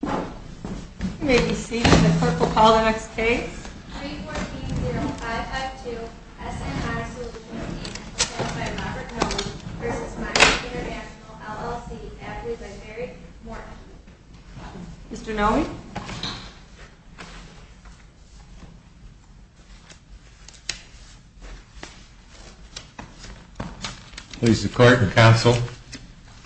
You may be seated. The clerk will call the next case. 3-4-8-0-5-5-2 SNI Solutions, Inc. v. Mining International, LLC Addressed by Mary Morton Mr. Noe? Please the Court and Counsel.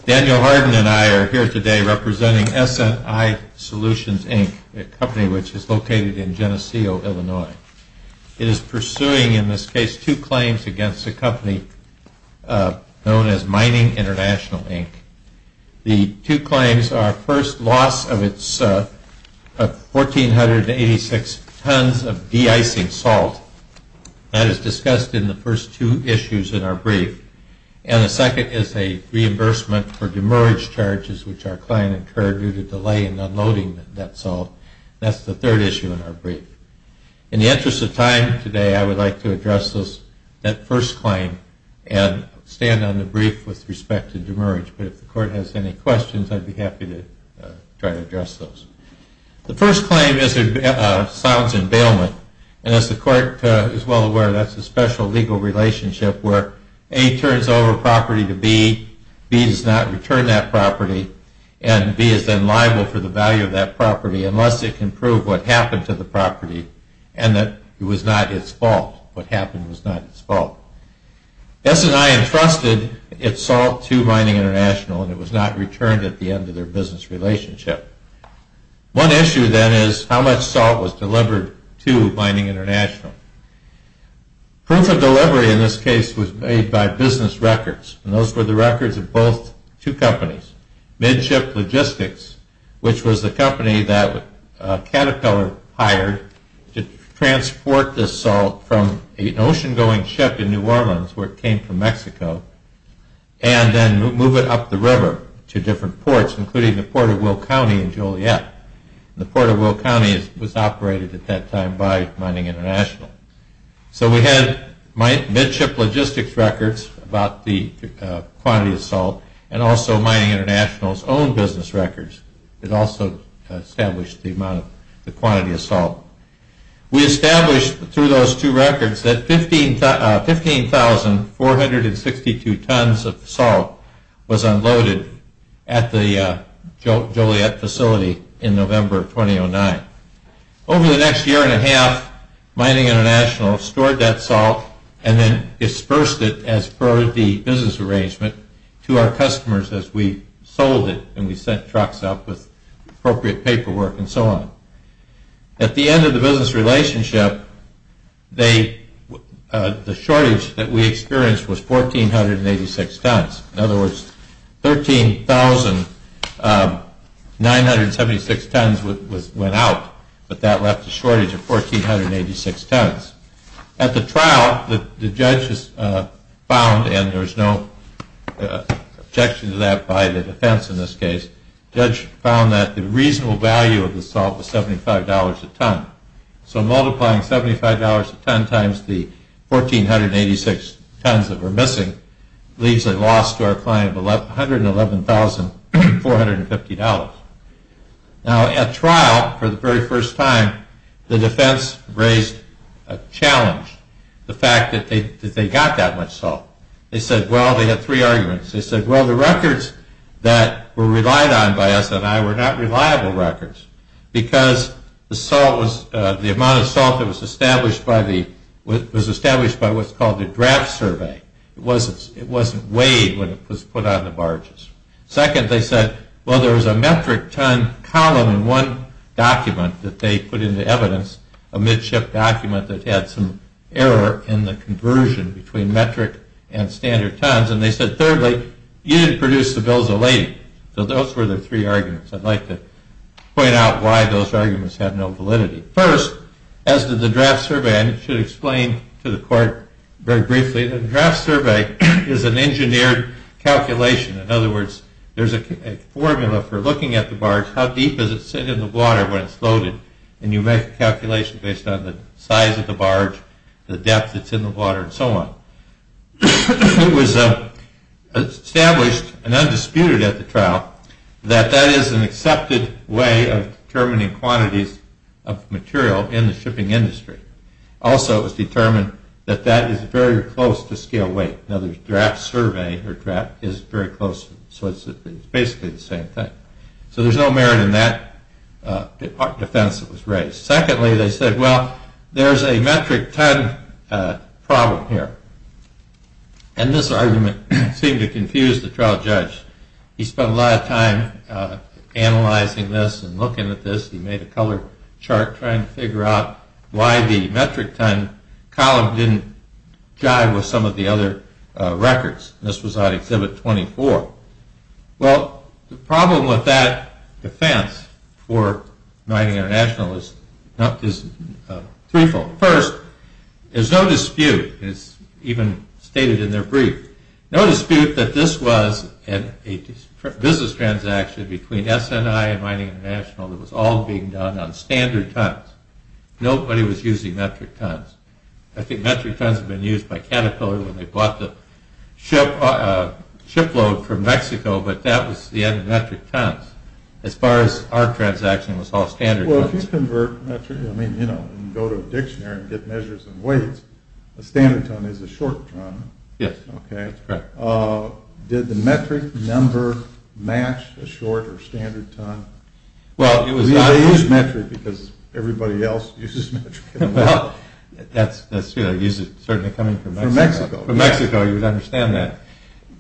Daniel Hardin and I are here today representing SNI Solutions, Inc., a company which is located in Geneseo, Illinois. It is pursuing in this case two claims against a company known as Mining International, Inc. The two claims are first, loss of its 1,486 tons of de-icing salt. That is discussed in the first two issues in our brief. And the second is a reimbursement for demerge charges which our client incurred due to delay in unloading that salt. That's the third issue in our brief. In the interest of time today, I would like to address that first claim and stand on the brief with respect to demerge. But if the Court has any questions, I'd be happy to try to address those. The first claim sounds in bailment. And as the Court is well aware, that's a special legal relationship where A turns over property to B, B does not return that property, and B is then liable for the value of that property unless it can prove what happened to the property and that it was not its fault. What happened was not its fault. S&I entrusted its salt to Mining International and it was not returned at the end of their business relationship. One issue then is how much salt was delivered to Mining International. Proof of delivery in this case was made by business records. And those were the records of both two companies. Midship Logistics, which was the company that Caterpillar hired to transport the salt from an ocean-going ship in New Orleans, where it came from Mexico, and then move it up the river to different ports, including the Port of Will County in Joliet. The Port of Will County was operated at that time by Mining International. So we had Midship Logistics records about the quantity of salt and also Mining International's own business records. It also established the amount of the quantity of salt. We established through those two records that 15,462 tons of salt was unloaded at the Joliet facility in November of 2009. Over the next year and a half, Mining International stored that salt and then dispersed it as per the business arrangement to our customers as we sold it and we sent trucks up with appropriate paperwork and so on. At the end of the business relationship, the shortage that we experienced was 1,486 tons. In other words, 13,976 tons went out, but that left a shortage of 1,486 tons. At the trial, the judge found, and there was no objection to that by the defense in this case, the judge found that the reasonable value of the salt was $75 a ton. So multiplying $75 a ton times the 1,486 tons that were missing leaves a loss to our client of $111,450. Now at trial, for the very first time, the defense raised a challenge. The fact that they got that much salt. They said, well, they had three arguments. They said, well, the records that were relied on by us and I were not reliable records because the salt was, the amount of salt that was established by the, was established by what's called the draft survey. It wasn't weighed when it was put on the barges. Second, they said, well, there was a metric ton column in one document that they put into evidence, a midship document that had some error in the conversion between metric and standard tons. And they said, thirdly, you didn't produce the bills of lading. So those were the three arguments. I'd like to point out why those arguments have no validity. First, as to the draft survey, and it should explain to the court very briefly, the draft survey is an engineered calculation. In other words, there's a formula for looking at the barge, how deep does it sit in the water when it's loaded, and you make a calculation based on the size of the barge, the depth that's in the water, and so on. It was established and undisputed at the trial that that is an accepted way of determining quantities of material in the shipping industry. Also, it was determined that that is very close to scale weight. In other words, draft survey or draft is very close, so it's basically the same thing. So there's no merit in that defense that was raised. Secondly, they said, well, there's a metric ton problem here. And this argument seemed to confuse the trial judge. He spent a lot of time analyzing this and looking at this. He made a color chart trying to figure out why the metric ton column didn't jive with some of the other records. This was on Exhibit 24. Well, the problem with that defense for Mining International is threefold. First, there's no dispute, as even stated in their brief, no dispute that this was a business transaction between S&I and Mining International that was all being done on standard tons. Nobody was using metric tons. I think metric tons had been used by Caterpillar when they bought the shipload from Mexico, but that was the end of metric tons. As far as our transaction was all standard tons. Well, if you convert metric, I mean, you know, and go to a dictionary and get measures and weights, a standard ton is a short ton. Yes, that's correct. Did the metric number match a short or standard ton? Well, it was not. Everybody else uses metric. Well, that's true. It's certainly coming from Mexico. From Mexico. From Mexico, you would understand that.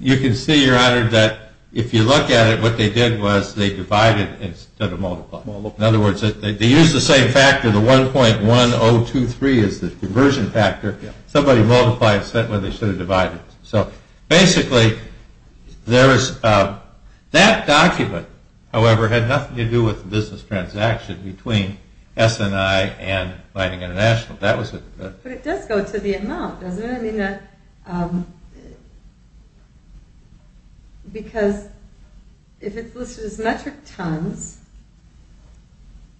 You can see, Your Honor, that if you look at it, what they did was they divided instead of multiplied. In other words, they used the same factor, the 1.1023 is the conversion factor. Somebody multiplies, that way they should have divided. Basically, that document, however, had nothing to do with the business transaction between S&I and Lightning International. But it does go to the amount, doesn't it? I mean, because if it's listed as metric tons,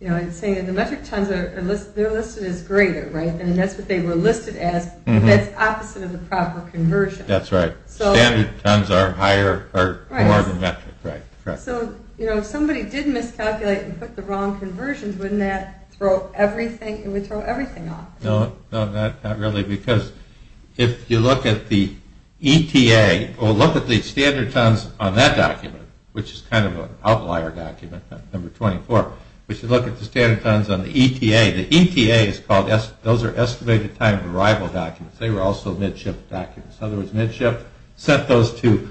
you know, I'm saying that the metric tons, they're listed as greater, right? And that's what they were listed as. That's opposite of the proper conversion. That's right. Standard tons are more of a metric. So, you know, if somebody did miscalculate and put the wrong conversions, wouldn't that throw everything off? No, not really, because if you look at the ETA, or look at the standard tons on that document, which is kind of an outlier document, number 24, but you look at the standard tons on the ETA, the ETA is called, those are estimated time of arrival documents. They were also midship documents. In other words, midship sent those to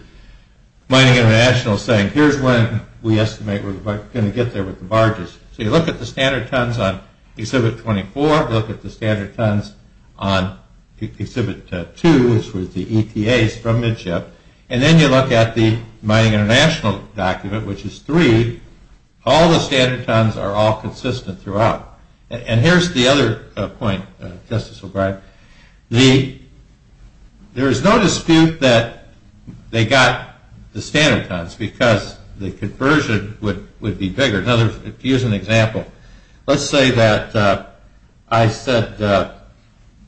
Mining International saying, here's when we estimate we're going to get there with the barges. So you look at the standard tons on Exhibit 24, look at the standard tons on Exhibit 2, which was the ETAs from midship, and then you look at the Mining International document, which is 3. All the standard tons are all consistent throughout. And here's the other point, Justice O'Brien. There is no dispute that they got the standard tons because the conversion would be bigger. To use an example, let's say that I said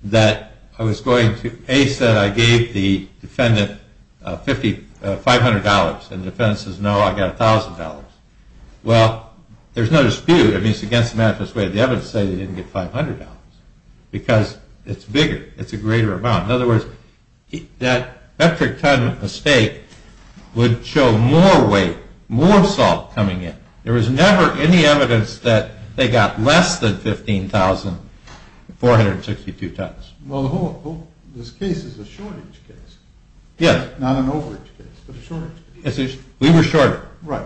that I was going to, A said I gave the defendant $500, and the defendant says, no, I got $1,000. Well, there's no dispute. I mean, it's against the manifest way. The evidence says they didn't get $500 because it's bigger. It's a greater amount. In other words, that metric ton mistake would show more weight, more salt coming in. There was never any evidence that they got less than 15,462 tons. Well, this case is a shortage case. Yes. Not an overage case, but a shortage case. We were shorter. Right.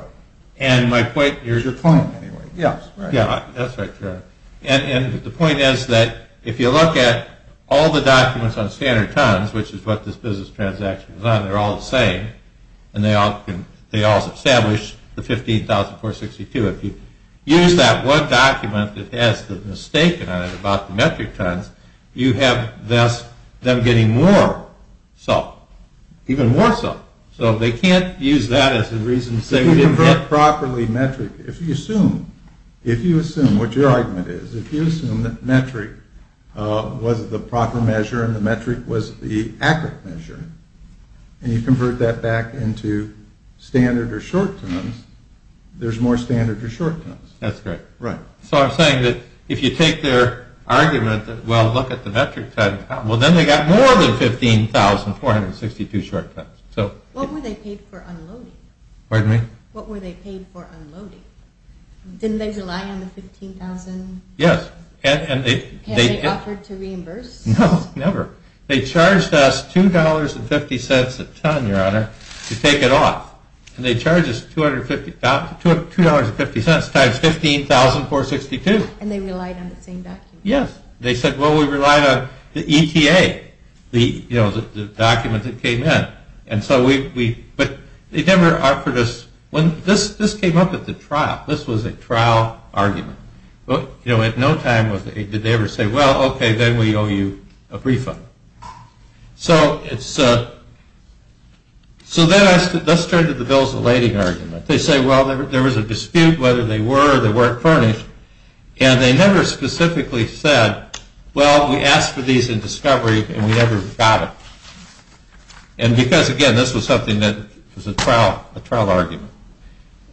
Here's your point, anyway. Yes. That's right. And the point is that if you look at all the documents on standard tons, which is what this business transaction is on, they're all the same. And they all establish the 15,462. If you use that one document that has the mistake in it about the metric tons, you have thus them getting more salt, even more salt. So they can't use that as a reason to say we didn't get properly metric. If you assume what your argument is, if you assume that metric was the proper measure and the metric was the accurate measure, and you convert that back into standard or short tons, there's more standard or short tons. That's correct. So I'm saying that if you take their argument that, well, look at the metric tons, well, then they got more than 15,462 short tons. What were they paid for unloading? Pardon me? What were they paid for unloading? Didn't they rely on the 15,000? Yes. And they offered to reimburse? No, never. They charged us $2.50 a ton, Your Honor, to take it off. And they charged us $2.50 times 15,462. And they relied on the same document? Yes. They said, well, we relied on the ETA, the document that came in. And so we – but they never offered us – this came up at the trial. This was a trial argument. At no time did they ever say, well, okay, then we owe you a refund. So it's – so then that's turned to the bills of lading argument. They say, well, there was a dispute whether they were or they weren't furnished. And they never specifically said, well, we asked for these in discovery and we never got it. And because, again, this was something that was a trial argument.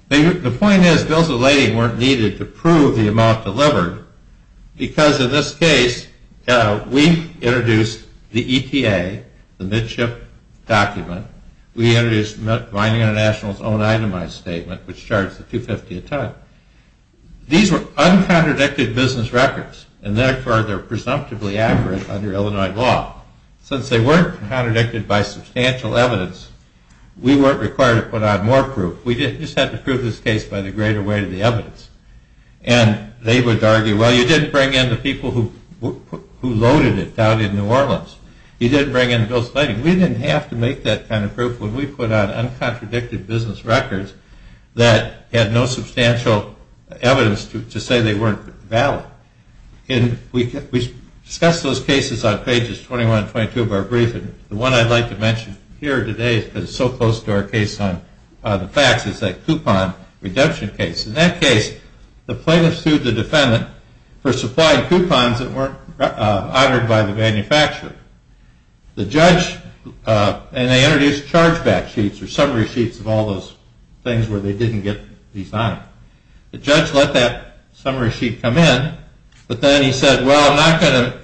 The point is bills of lading weren't needed to prove the amount delivered because in this case we introduced the ETA, the midship document. We introduced Mining International's own itemized statement, which charged us $2.50 a ton. These were uncontradicted business records, and therefore they're presumptively accurate under Illinois law. Since they weren't contradicted by substantial evidence, we weren't required to put on more proof. We just had to prove this case by the greater weight of the evidence. And they would argue, well, you didn't bring in the people who loaded it down in New Orleans. You didn't bring in the bills of lading. We didn't have to make that kind of proof when we put on uncontradicted business records that had no substantial evidence to say they weren't valid. We discussed those cases on pages 21 and 22 of our briefing. The one I'd like to mention here today, because it's so close to our case on the facts, is that coupon redemption case. In that case, the plaintiff sued the defendant for supplying coupons that weren't honored by the manufacturer. The judge, and they introduced chargeback sheets, or summary sheets of all those things where they didn't get these honored. The judge let that summary sheet come in, but then he said, well, I'm not going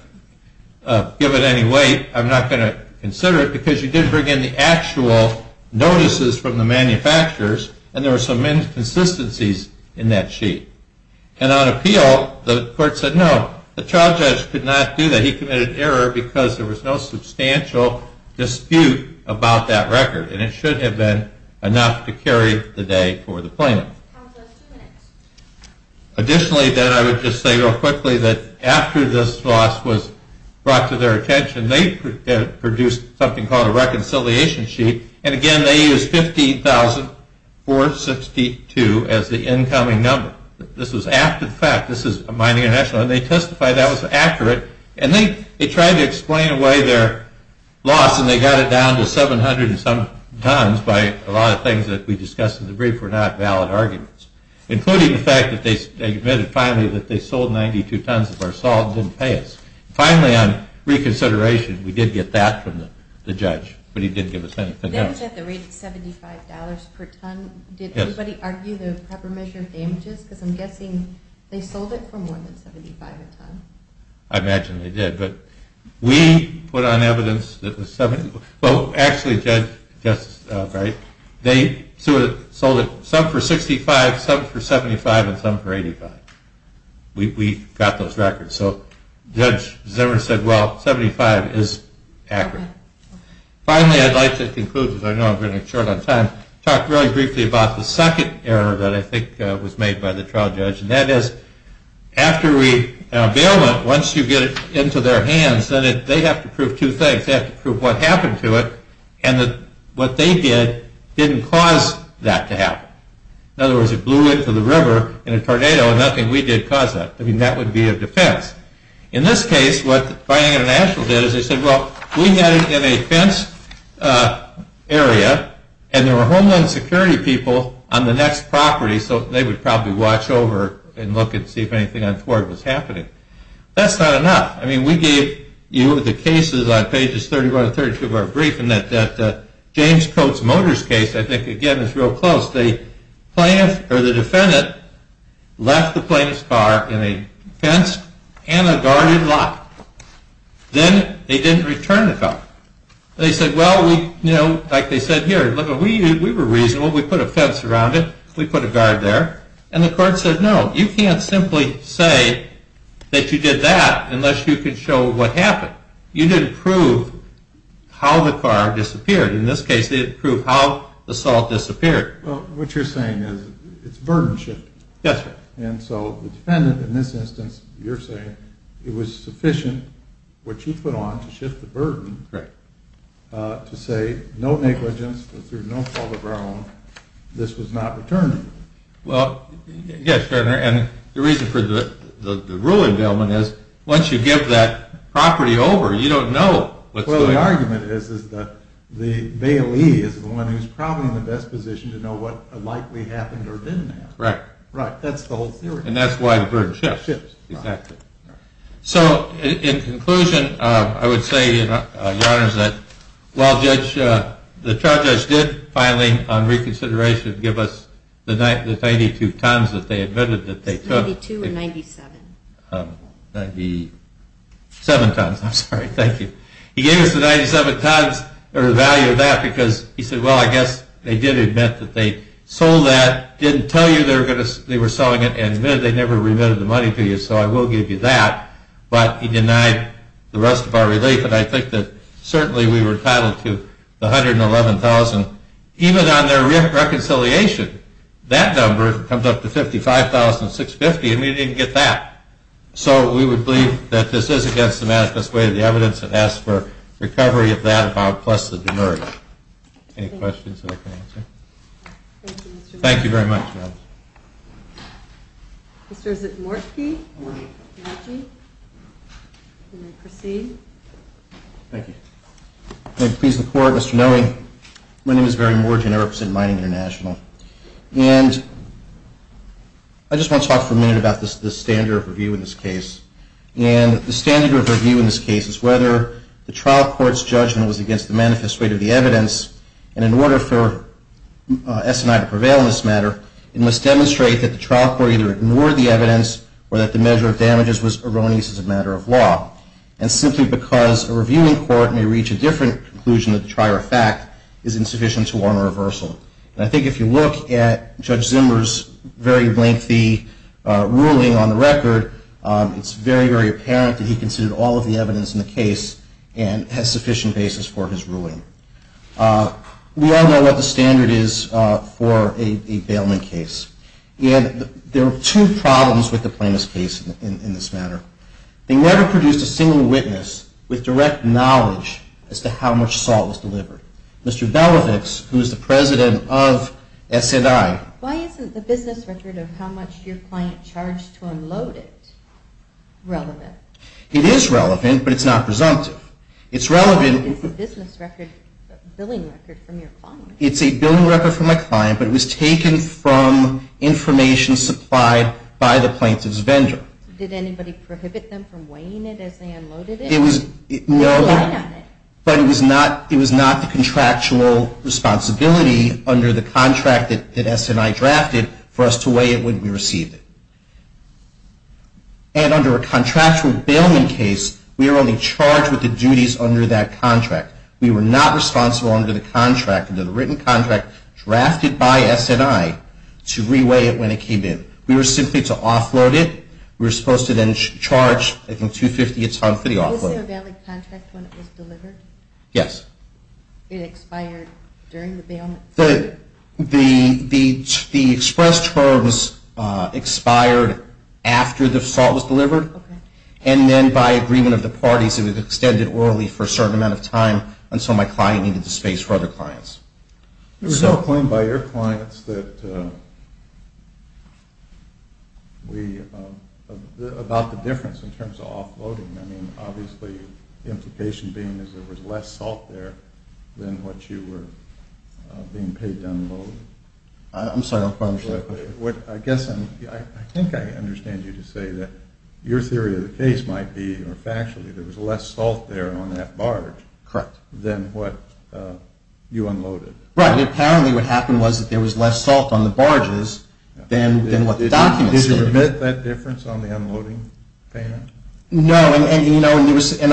to give it any weight. I'm not going to consider it, because you did bring in the actual notices from the manufacturers, and there were some inconsistencies in that sheet. And on appeal, the court said, no, the trial judge could not do that. He committed error because there was no substantial dispute about that record, and it should have been enough to carry the day for the plaintiff. Additionally, I would just say real quickly that after this loss was brought to their attention, they produced something called a reconciliation sheet, and again, they used 15,462 as the incoming number. This was after the fact. This is a mining international, and they testified that was accurate, and they tried to explain away their loss, and they got it down to 700 and some tons by a lot of things that we discussed in the brief were not valid arguments, including the fact that they admitted finally that they sold 92 tons of our salt and didn't pay us. Finally, on reconsideration, we did get that from the judge, but he didn't give us anything else. That was at the rate of $75 per ton. Did anybody argue the proper measure of damages? Because I'm guessing they sold it for more than $75 a ton. I imagine they did, but we put on evidence that was 70. Well, actually, Judge, they sold it, some for $65, some for $75, and some for $85. We got those records. So Judge Zimmer said, well, $75 is accurate. Finally, I'd like to conclude because I know I'm running short on time. Talk really briefly about the second error that I think was made by the trial judge, and that is after a bailment, once you get it into their hands, then they have to prove two things. They have to prove what happened to it and that what they did didn't cause that to happen. In other words, it blew into the river in a tornado, and nothing we did caused that. I mean, that would be a defense. In this case, what Buying International did is they said, well, we had it in a fenced area, and there were Homeland Security people on the next property, so they would probably watch over and look and see if anything untoward was happening. That's not enough. I mean, we gave you the cases on pages 31 and 32 of our brief, and that James Coates Motors case, I think, again, is real close. The defendant left the plaintiff's car in a fenced and a guarded lot. Then they didn't return the car. They said, well, like they said here, we were reasonable. We put a fence around it. We put a guard there. And the court said, no, you can't simply say that you did that unless you can show what happened. You didn't prove how the car disappeared. In this case, they didn't prove how the salt disappeared. Well, what you're saying is it's a burden shift. Yes, sir. And so the defendant, in this instance, you're saying it was sufficient, which he put on to shift the burden, to say no negligence, that through no fault of our own, this was not returned. Well, yes, sir, and the reason for the rule endowment is once you give that property over, you don't know what's going on. Well, the argument is that Bailey is the one who's probably in the best position to know what likely happened or didn't happen. Right. That's the whole theory. And that's why the burden shifts. It shifts. Exactly. So in conclusion, I would say, Your Honors, that while the trial judge did finally, on reconsideration, give us the 92 tons that they admitted that they took. 92 or 97. 97 tons. I'm sorry. Thank you. He gave us the value of that because he said, well, I guess they did admit that they sold that, didn't tell you they were selling it, and admitted they never remitted the money to you, so I will give you that, but he denied the rest of our relief, and I think that certainly we were entitled to the $111,000. Even on their reconciliation, that number comes up to $55,650, and we didn't get that. So we would believe that this is against the manifest way of the evidence and ask for recovery of that amount plus the demerit. Any questions that I can answer? Thank you very much. Mr. Zitmorski. Good morning. Thank you. You may proceed. Thank you. May it please the Court, Mr. Noe, my name is Barry Morgian. I represent Mining International. And I just want to talk for a minute about the standard of review in this case. And the standard of review in this case is whether the trial court's judgment was against the manifest way of the evidence, and in order for S&I to prevail in this matter, it must demonstrate that the trial court either ignored the evidence or that the measure of damages was erroneous as a matter of law. And simply because a reviewing court may reach a different conclusion than the prior fact is insufficient to warrant a reversal. And I think if you look at Judge Zimmer's very lengthy ruling on the record, it's very, very apparent that he considered all of the evidence in the case and has sufficient basis for his ruling. We all know what the standard is for a bailment case. And there are two problems with the plaintiff's case in this matter. They never produced a single witness with direct knowledge as to how much salt was delivered. Mr. Belovitz, who is the president of S&I. Why isn't the business record of how much your client charged to unload it relevant? It is relevant, but it's not presumptive. It's relevant. It's a business record, a billing record from your client. It's a billing record from my client, but it was taken from information supplied by the plaintiff's vendor. Did anybody prohibit them from weighing it as they unloaded it? No, but it was not the contractual responsibility under the contract that S&I drafted for us to weigh it when we received it. And under a contractual bailment case, we were only charged with the duties under that contract. We were not responsible under the written contract drafted by S&I to re-weigh it when it came in. We were simply to offload it. We were supposed to then charge, I think, $250 a ton for the offload. Was there a valid contract when it was delivered? Yes. It expired during the bailment? The express term expired after the salt was delivered. And then by agreement of the parties, it was extended orally for a certain amount of time until my client needed the space for other clients. There was no claim by your clients about the difference in terms of offloading. I mean, obviously, the implication being is there was less salt there than what you were being paid to unload. I'm sorry, I don't quite understand that question. I think I understand you to say that your theory of the case might be, or factually, there was less salt there on that barge than what you unloaded. Right, and apparently what happened was that there was less salt on the barges than what the documents stated. Did you remit that difference on the unloading payment? No, and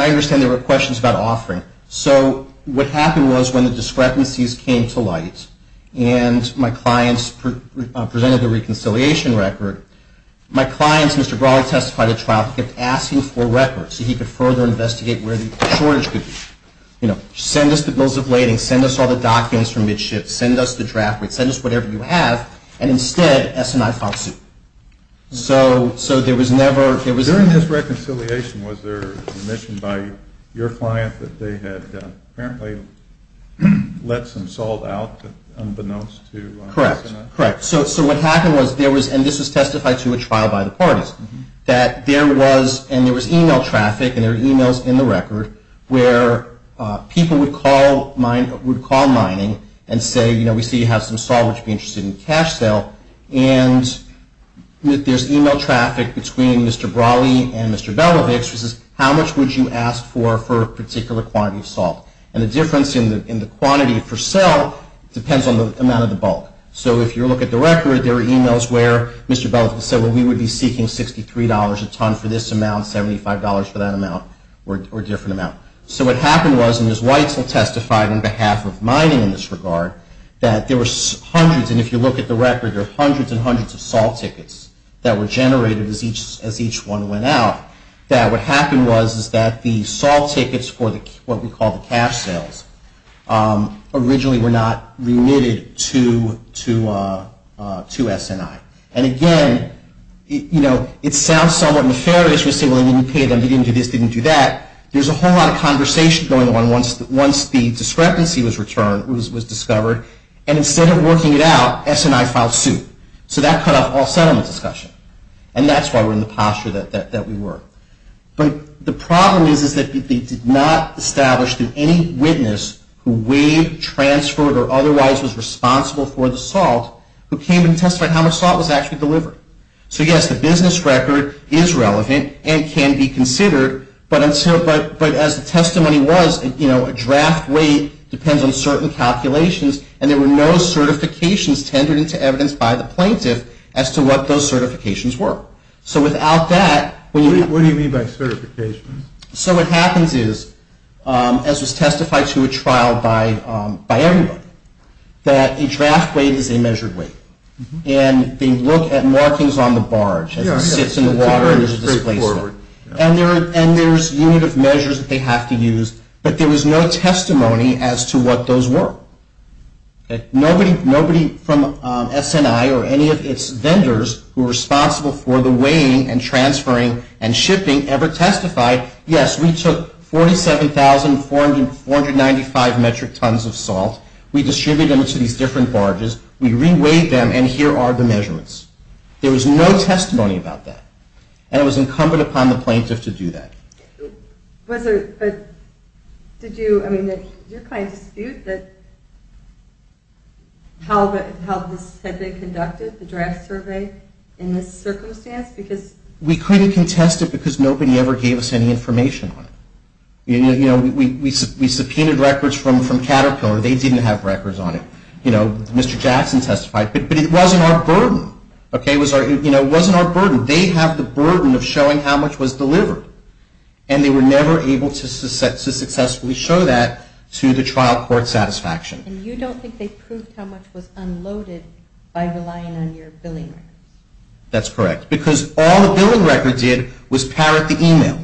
I understand there were questions about offering. So what happened was when the discrepancies came to light and my clients presented the reconciliation record, my clients, Mr. Brawley testified at trial, kept asking for records so he could further investigate where the shortage could be. You know, send us the bills of lading, send us all the documents from midship, send us the draft rate, send us whatever you have, and instead, S&I filed suit. During this reconciliation, was there remission by your client that they had apparently let some salt out unbeknownst to S&I? Correct, correct. So what happened was, and this was testified to at trial by the parties, that there was e-mail traffic and there were e-mails in the record where people would call mining and say, you know, we see you have some salt, would you be interested in cash sale? And there's e-mail traffic between Mr. Brawley and Mr. Belovix who says, how much would you ask for for a particular quantity of salt? And the difference in the quantity for sale depends on the amount of the bulk. So if you look at the record, there were e-mails where Mr. Belovix said, well, we would be seeking $63 a ton for this amount, $75 for that amount, or a different amount. So what happened was, and Ms. Weitzel testified on behalf of mining in this regard, that there were hundreds, and if you look at the record, there are hundreds and hundreds of salt tickets that were generated as each one went out, that what happened was that the salt tickets for what we call the cash sales originally were not remitted to S&I. And again, you know, it sounds somewhat nefarious to say, well, they didn't pay them, they didn't do this, they didn't do that. There's a whole lot of conversation going on once the discrepancy was discovered, and instead of working it out, S&I filed suit. So that cut off all settlement discussion. And that's why we're in the posture that we were. But the problem is that they did not establish that any witness who weighed, transferred, or otherwise was responsible for the salt who came and testified how much salt was actually delivered. So yes, the business record is relevant and can be considered, but as the testimony was, you know, a draft weight depends on certain calculations, and there were no certifications tendered into evidence by the plaintiff as to what those certifications were. So without that, when you have... What do you mean by certifications? So what happens is, as was testified to a trial by everybody, that a draft weight is a measured weight. And they look at markings on the barge as it sits in the water and there's a displacement. And there's a unit of measures that they have to use, but there was no testimony as to what those were. Nobody from S&I or any of its vendors who were responsible for the weighing and transferring and shipping ever testified, yes, we took 47,495 metric tons of salt, we distributed them to these different barges, we re-weighed them, and here are the measurements. There was no testimony about that. And it was incumbent upon the plaintiff to do that. But did you... I mean, did your client dispute that... how this had been conducted, the draft survey, in this circumstance? Because... We couldn't contest it because nobody ever gave us any information on it. You know, we subpoenaed records from Caterpillar. They didn't have records on it. You know, Mr. Jackson testified. But it wasn't our burden, okay? It wasn't our burden. They have the burden of showing how much was delivered. And they were never able to successfully show that to the trial court satisfaction. And you don't think they proved how much was unloaded by relying on your billing records? That's correct. Because all the billing records did was parrot the email.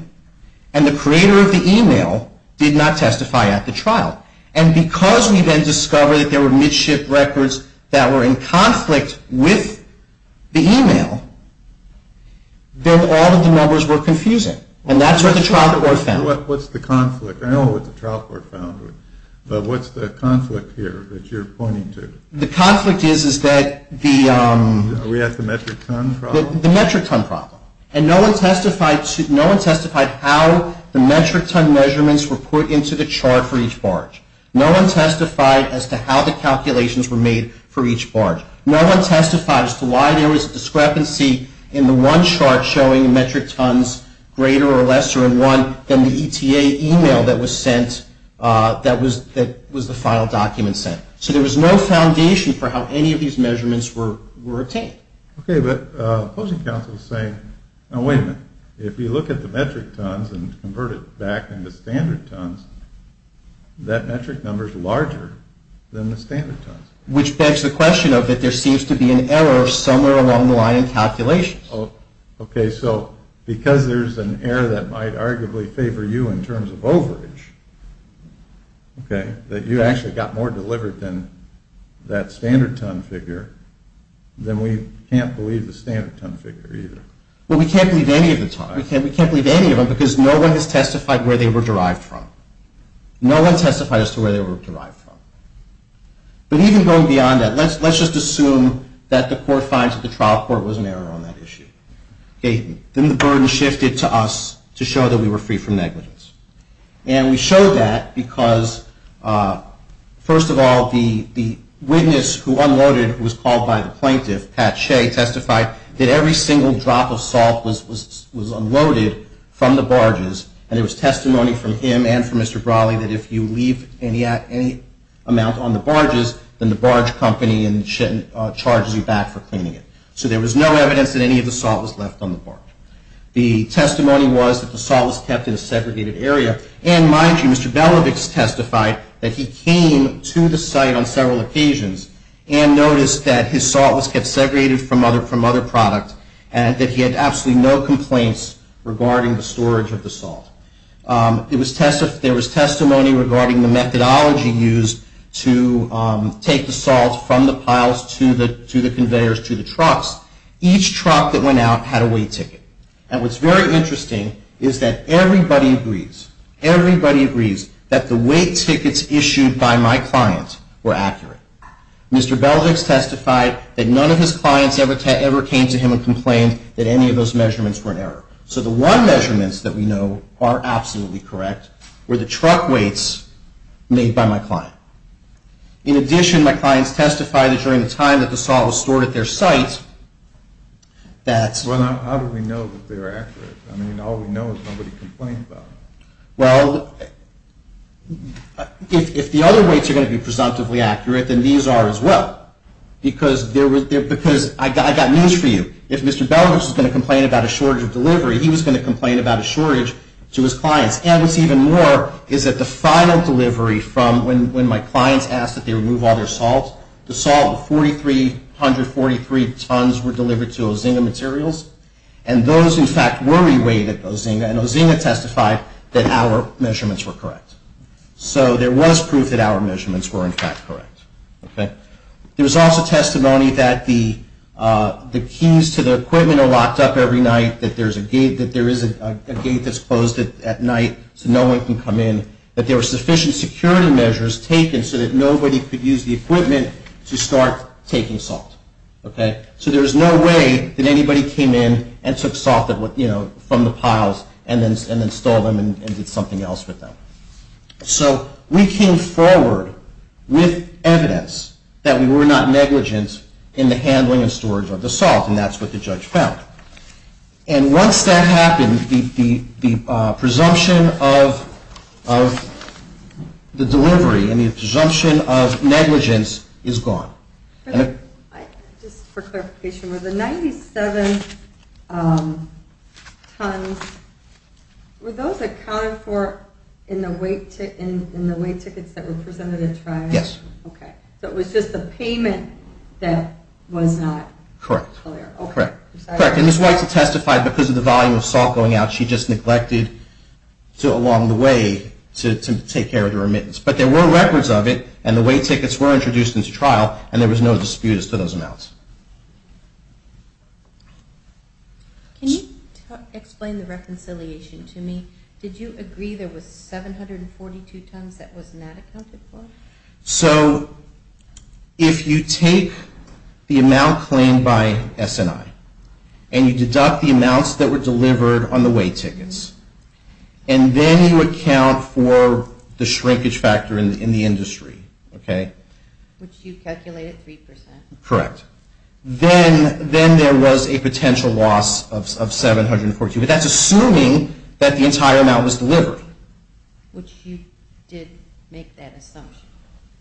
And the creator of the email did not testify at the trial. And because we then discovered that there were midship records that were in conflict with the email, then all of the numbers were confusing. And that's what the trial court found. What's the conflict? I know what the trial court found. But what's the conflict here that you're pointing to? The conflict is that the... We have the metric ton problem? The metric ton problem. And no one testified how the metric ton measurements were put into the chart for each barge. No one testified as to how the calculations were made for each barge. No one testified as to why there was a discrepancy in the one chart showing metric tons greater or lesser in one than the ETA email that was sent, that was the final document sent. So there was no foundation for how any of these measurements were obtained. Okay. If you look at the metric tons and convert it back into standard tons, that metric number is larger than the standard tons. Which begs the question of that there seems to be an error somewhere along the line in calculations. Oh, okay. So because there's an error that might arguably favor you in terms of overage, okay, that you actually got more delivered than that standard ton figure, then we can't believe the standard ton figure either. Well, we can't believe any of the tons. We can't believe any of them because no one has testified where they were derived from. No one testified as to where they were derived from. But even going beyond that, let's just assume that the court finds that the trial court was an error on that issue. Okay. Then the burden shifted to us to show that we were free from negligence. And we showed that because, first of all, the witness who unloaded, who was called by the plaintiff, Pat Shea, testified that every single drop of salt was unloaded from the barges. And there was testimony from him and from Mr. Brawley that if you leave any amount on the barges, then the barge company charges you back for cleaning it. So there was no evidence that any of the salt was left on the barge. The testimony was that the salt was kept in a segregated area. And, mind you, Mr. Belovix testified that he came to the site on several occasions and noticed that his salt was kept segregated from other product and that he had absolutely no complaints regarding the storage of the salt. There was testimony regarding the methodology used to take the salt from the piles to the conveyors to the trucks. Each truck that went out had a weight ticket. And what's very interesting is that everybody agrees, everybody agrees, that the weight tickets issued by my client were accurate. Mr. Belovix testified that none of his clients ever came to him and complained that any of those measurements were an error. So the one measurements that we know are absolutely correct were the truck weights made by my client. In addition, my clients testified that during the time that the salt was stored at their site that... Well, how do we know that they were accurate? I mean, all we know is nobody complained about it. Well, if the other weights are going to be presumptively accurate, then these are as well. Because I got news for you. If Mr. Belovix was going to complain about a shortage of delivery, he was going to complain about a shortage to his clients. And what's even more is that the final delivery from when my clients asked that they remove all their salt, the salt of 4,343 tons were delivered to Ozinga Materials. And those, in fact, were re-weighted at Ozinga. And Ozinga testified that our measurements were correct. So there was proof that our measurements were, in fact, correct. There was also testimony that the keys to the equipment are locked up every night, that there is a gate that's closed at night so no one can come in, that there were sufficient security measures taken so that nobody could use the equipment to start taking salt. So there was no way that anybody came in and took salt from the piles and then stole them and did something else with them. So we came forward with evidence that we were not negligent in the handling and storage of the salt, and that's what the judge found. And once that happened, the presumption of the delivery and the presumption of negligence is gone. Just for clarification, were the 97 tons, were those accounted for in the weight tickets that were presented at trial? Yes. Okay. So it was just the payment that was not clear. Correct. Okay. And Ms. Weitzel testified because of the volume of salt going out, she just neglected to, along the way, to take care of the remittance. But there were records of it, and the weight tickets were introduced into trial, and there was no disputes to those amounts. Can you explain the reconciliation to me? Did you agree there was 742 tons that was not accounted for? So if you take the amount claimed by S&I and you deduct the amounts that were delivered on the weight tickets, and then you account for the shrinkage factor in the industry, okay? Which you calculated 3%. Correct. Then there was a potential loss of 742, but that's assuming that the entire amount was delivered. Which you did make that assumption.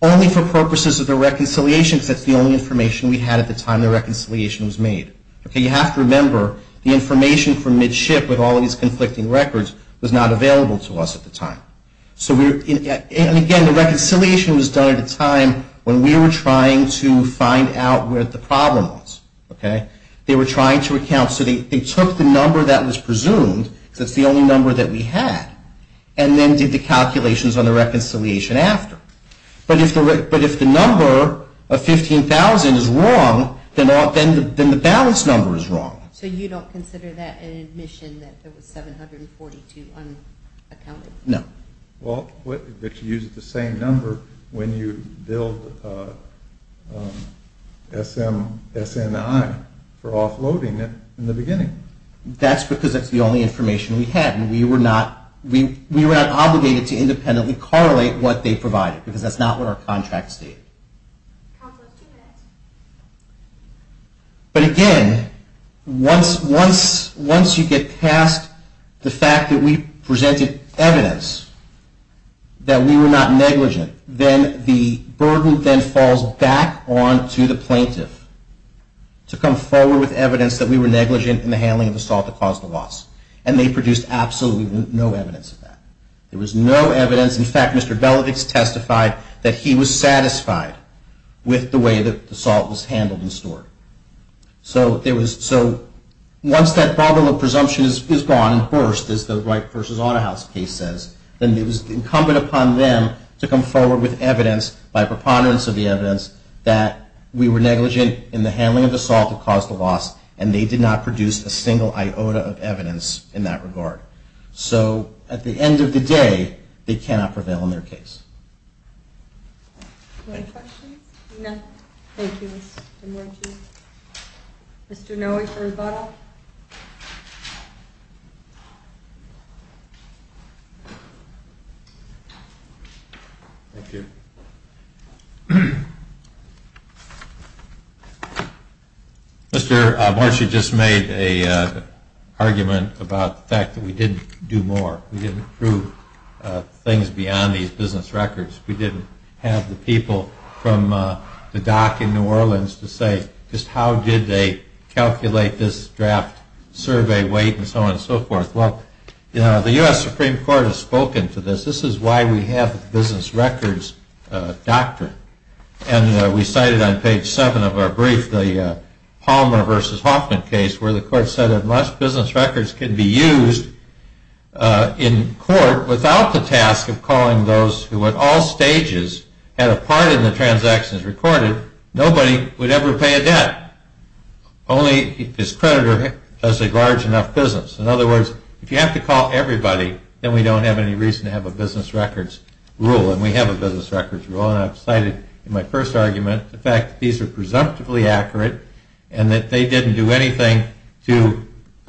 Only for purposes of the reconciliation, because that's the only information we had at the time the reconciliation was made. You have to remember the information from midship with all these conflicting records was not available to us at the time. And again, the reconciliation was done at a time when we were trying to find out where the problem was. They were trying to account, so they took the number that was presumed, because that's the only number that we had, and then did the calculations on the reconciliation after. But if the number of 15,000 is wrong, then the balance number is wrong. So you don't consider that an admission that there was 742 unaccounted for? No. Well, but you used the same number when you billed S&I for offloading it in the beginning. That's because that's the only information we had, and we were not obligated to independently correlate what they provided, because that's not what our contract stated. But again, once you get past the fact that we presented evidence that we were not negligent, then the burden then falls back onto the plaintiff to come forward with evidence that we were negligent in the handling of the assault that caused the loss. And they produced absolutely no evidence of that. There was no evidence. In fact, Mr. Belovix testified that he was satisfied with the way that the assault was handled and stored. So once that bubble of presumption is gone and burst, as the Wright v. Autohouse case says, then it was incumbent upon them to come forward with evidence by preponderance of the evidence that we were negligent in the handling of the assault that caused the loss, and they did not produce a single iota of evidence in that regard. So at the end of the day, they cannot prevail in their case. Any questions? No. Thank you, Mr. Morici. Mr. Noe for rebuttal. Thank you. Mr. Morici just made an argument about the fact that we didn't do more. We didn't prove things beyond these business records. We didn't have the people from the dock in New Orleans to say just how did they calculate this draft survey weight and so on and so forth. Well, the U.S. Supreme Court has spoken to this. This is why we have the business records doctrine. And we cited on page 7 of our brief the Palmer v. Hoffman case where the court said unless business records can be used in court without the task of calling those who at all stages had a part in the transactions recorded, nobody would ever pay a debt. Only if his creditor has a large enough business. In other words, if you have to call everybody, then we don't have any reason to have a business records rule, and we have a business records rule. And I've cited in my first argument the fact that these are presumptively accurate and that they didn't do anything to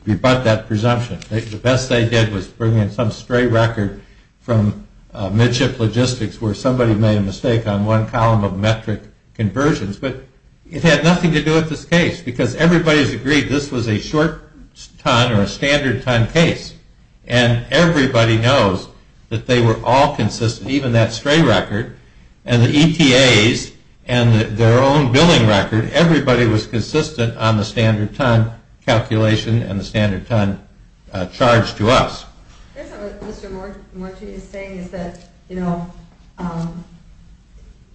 rebut that presumption. The best they did was bring in some stray record from midship logistics where somebody made a mistake on one column of metric conversions. But it had nothing to do with this case because everybody has agreed this was a short ton or a standard ton case. And everybody knows that they were all consistent, even that stray record. And the ETAs and their own billing record, everybody was consistent on the standard ton calculation and the standard ton charge to us. Here's what Mr. Morton is saying is that, you know,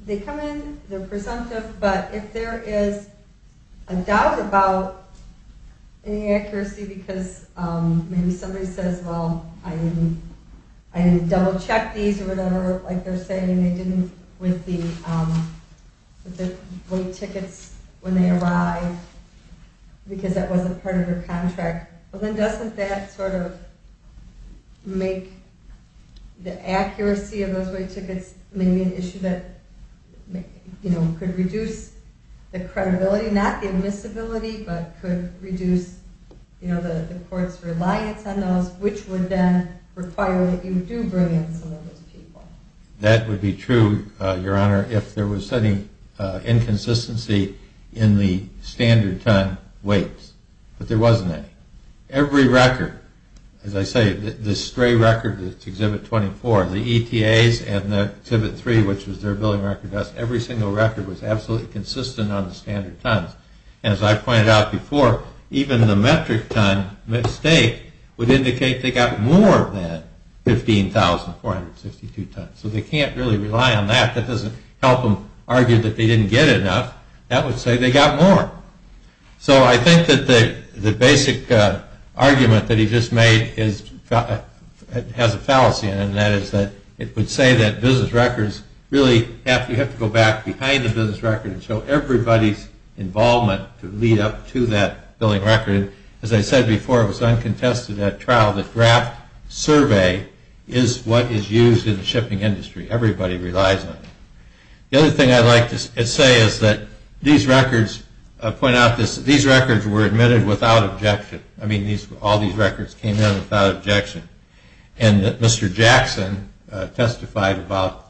they come in, they're presumptive, but if there is a doubt about any accuracy because maybe somebody says, well, I didn't double check these or whatever, like they're saying, they didn't with the wait tickets when they arrived because that wasn't part of their contract. Well, then doesn't that sort of make the accuracy of those wait tickets maybe an issue that, you know, could reduce the credibility, not the admissibility, but could reduce, you know, the court's reliance on those. Which would then require that you do bring in some of those people. That would be true, Your Honor, if there was any inconsistency in the standard ton weights. But there wasn't any. Every record, as I say, the stray record, Exhibit 24, the ETAs and the Exhibit 3, which was their billing record desk, every single record was absolutely consistent on the standard tons. And as I pointed out before, even the metric ton mistake would indicate they got more than 15,462 tons. So they can't really rely on that. That doesn't help them argue that they didn't get enough. That would say they got more. So I think that the basic argument that he just made has a fallacy in it, and that is that it would say that business records really have to go back behind the business records so everybody's involvement could lead up to that billing record. As I said before, it was uncontested at trial that draft survey is what is used in the shipping industry. Everybody relies on it. The other thing I'd like to say is that these records were admitted without objection. I mean, all these records came in without objection. And Mr. Jackson testified about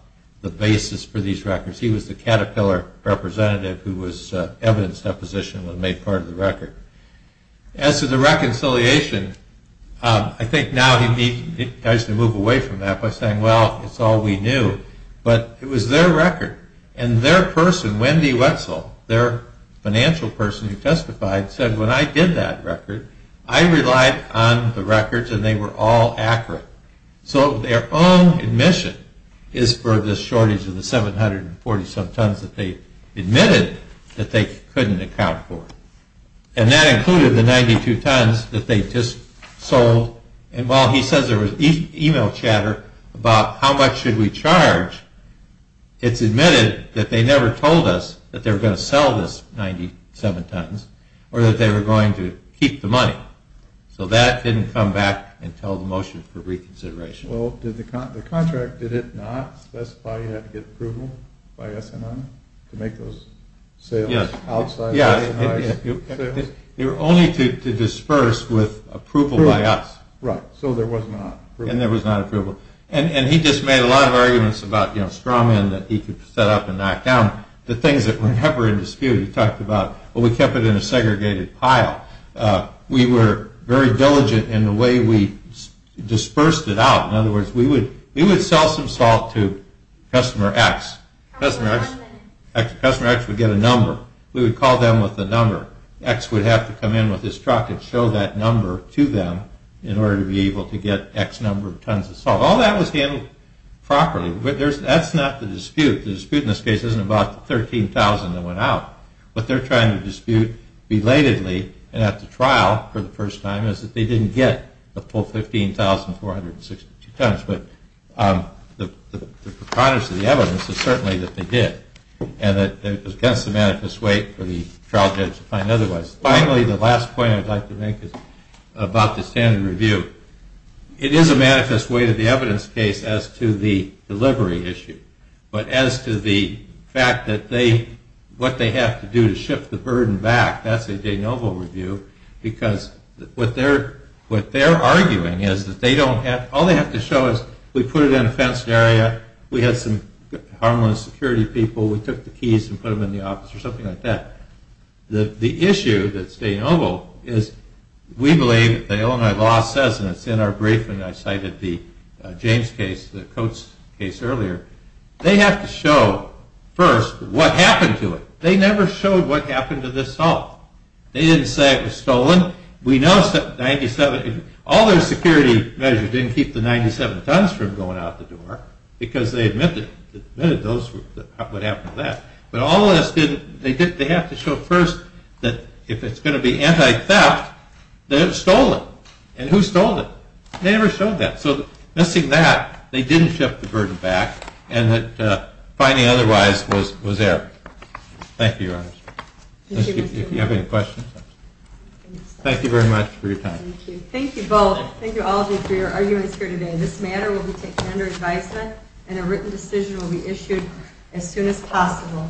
the basis for these records. He was the Caterpillar representative who was evidence deposition and made part of the record. As to the reconciliation, I think now he tries to move away from that by saying, well, it's all we knew. But it was their record. And their person, Wendy Wetzel, their financial person who testified, said, when I did that record, I relied on the records and they were all accurate. So their own admission is for this shortage of the 747 tons that they admitted that they couldn't account for. And that included the 92 tons that they just sold. And while he says there was email chatter about how much should we charge, it's admitted that they never told us that they were going to sell this 97 tons or that they were going to keep the money. So that didn't come back until the motion for reconsideration. Well, did the contract, did it not specify you had to get approval by S&M to make those sales outside of S&I? Yes, they were only to disperse with approval by us. Right, so there was not approval. And there was not approval. And he just made a lot of arguments about straw men that he could set up and knock down. The things that were never in dispute, he talked about, well, we kept it in a segregated pile. We were very diligent in the way we dispersed it out. In other words, we would sell some salt to customer X. Customer X would get a number. We would call them with the number. X would have to come in with his truck and show that number to them in order to be able to get X number of tons of salt. All that was handled properly. But that's not the dispute. The dispute in this case isn't about the 13,000 that went out. What they're trying to dispute belatedly and at the trial for the first time is that they didn't get the full 15,462 tons. But the precondition of the evidence is certainly that they did. And that it was against the manifest weight for the trial judge to find otherwise. Finally, the last point I'd like to make is about the standard review. It is a manifest weight of the evidence case as to the delivery issue. But as to the fact that what they have to do to shift the burden back, that's a de novo review. Because what they're arguing is that all they have to show is we put it in a fenced area. We had some harmless security people. We took the keys and put them in the office or something like that. The issue that's de novo is we believe that the Illinois law says, and it's in our briefing, I cited the James case, the Coates case earlier. They have to show first what happened to it. They never showed what happened to this salt. They didn't say it was stolen. We know that 97, all their security measures didn't keep the 97 tons from going out the door because they admitted what happened to that. But all of this didn't, they have to show first that if it's going to be anti-theft, that it was stolen. And who stole it? They never showed that. So missing that, they didn't shift the burden back and that finding otherwise was there. Thank you, Your Honor. If you have any questions. Thank you very much for your time. Thank you both. Thank you all of you for your arguments here today. This matter will be taken under advisement and a written decision will be issued as soon as possible.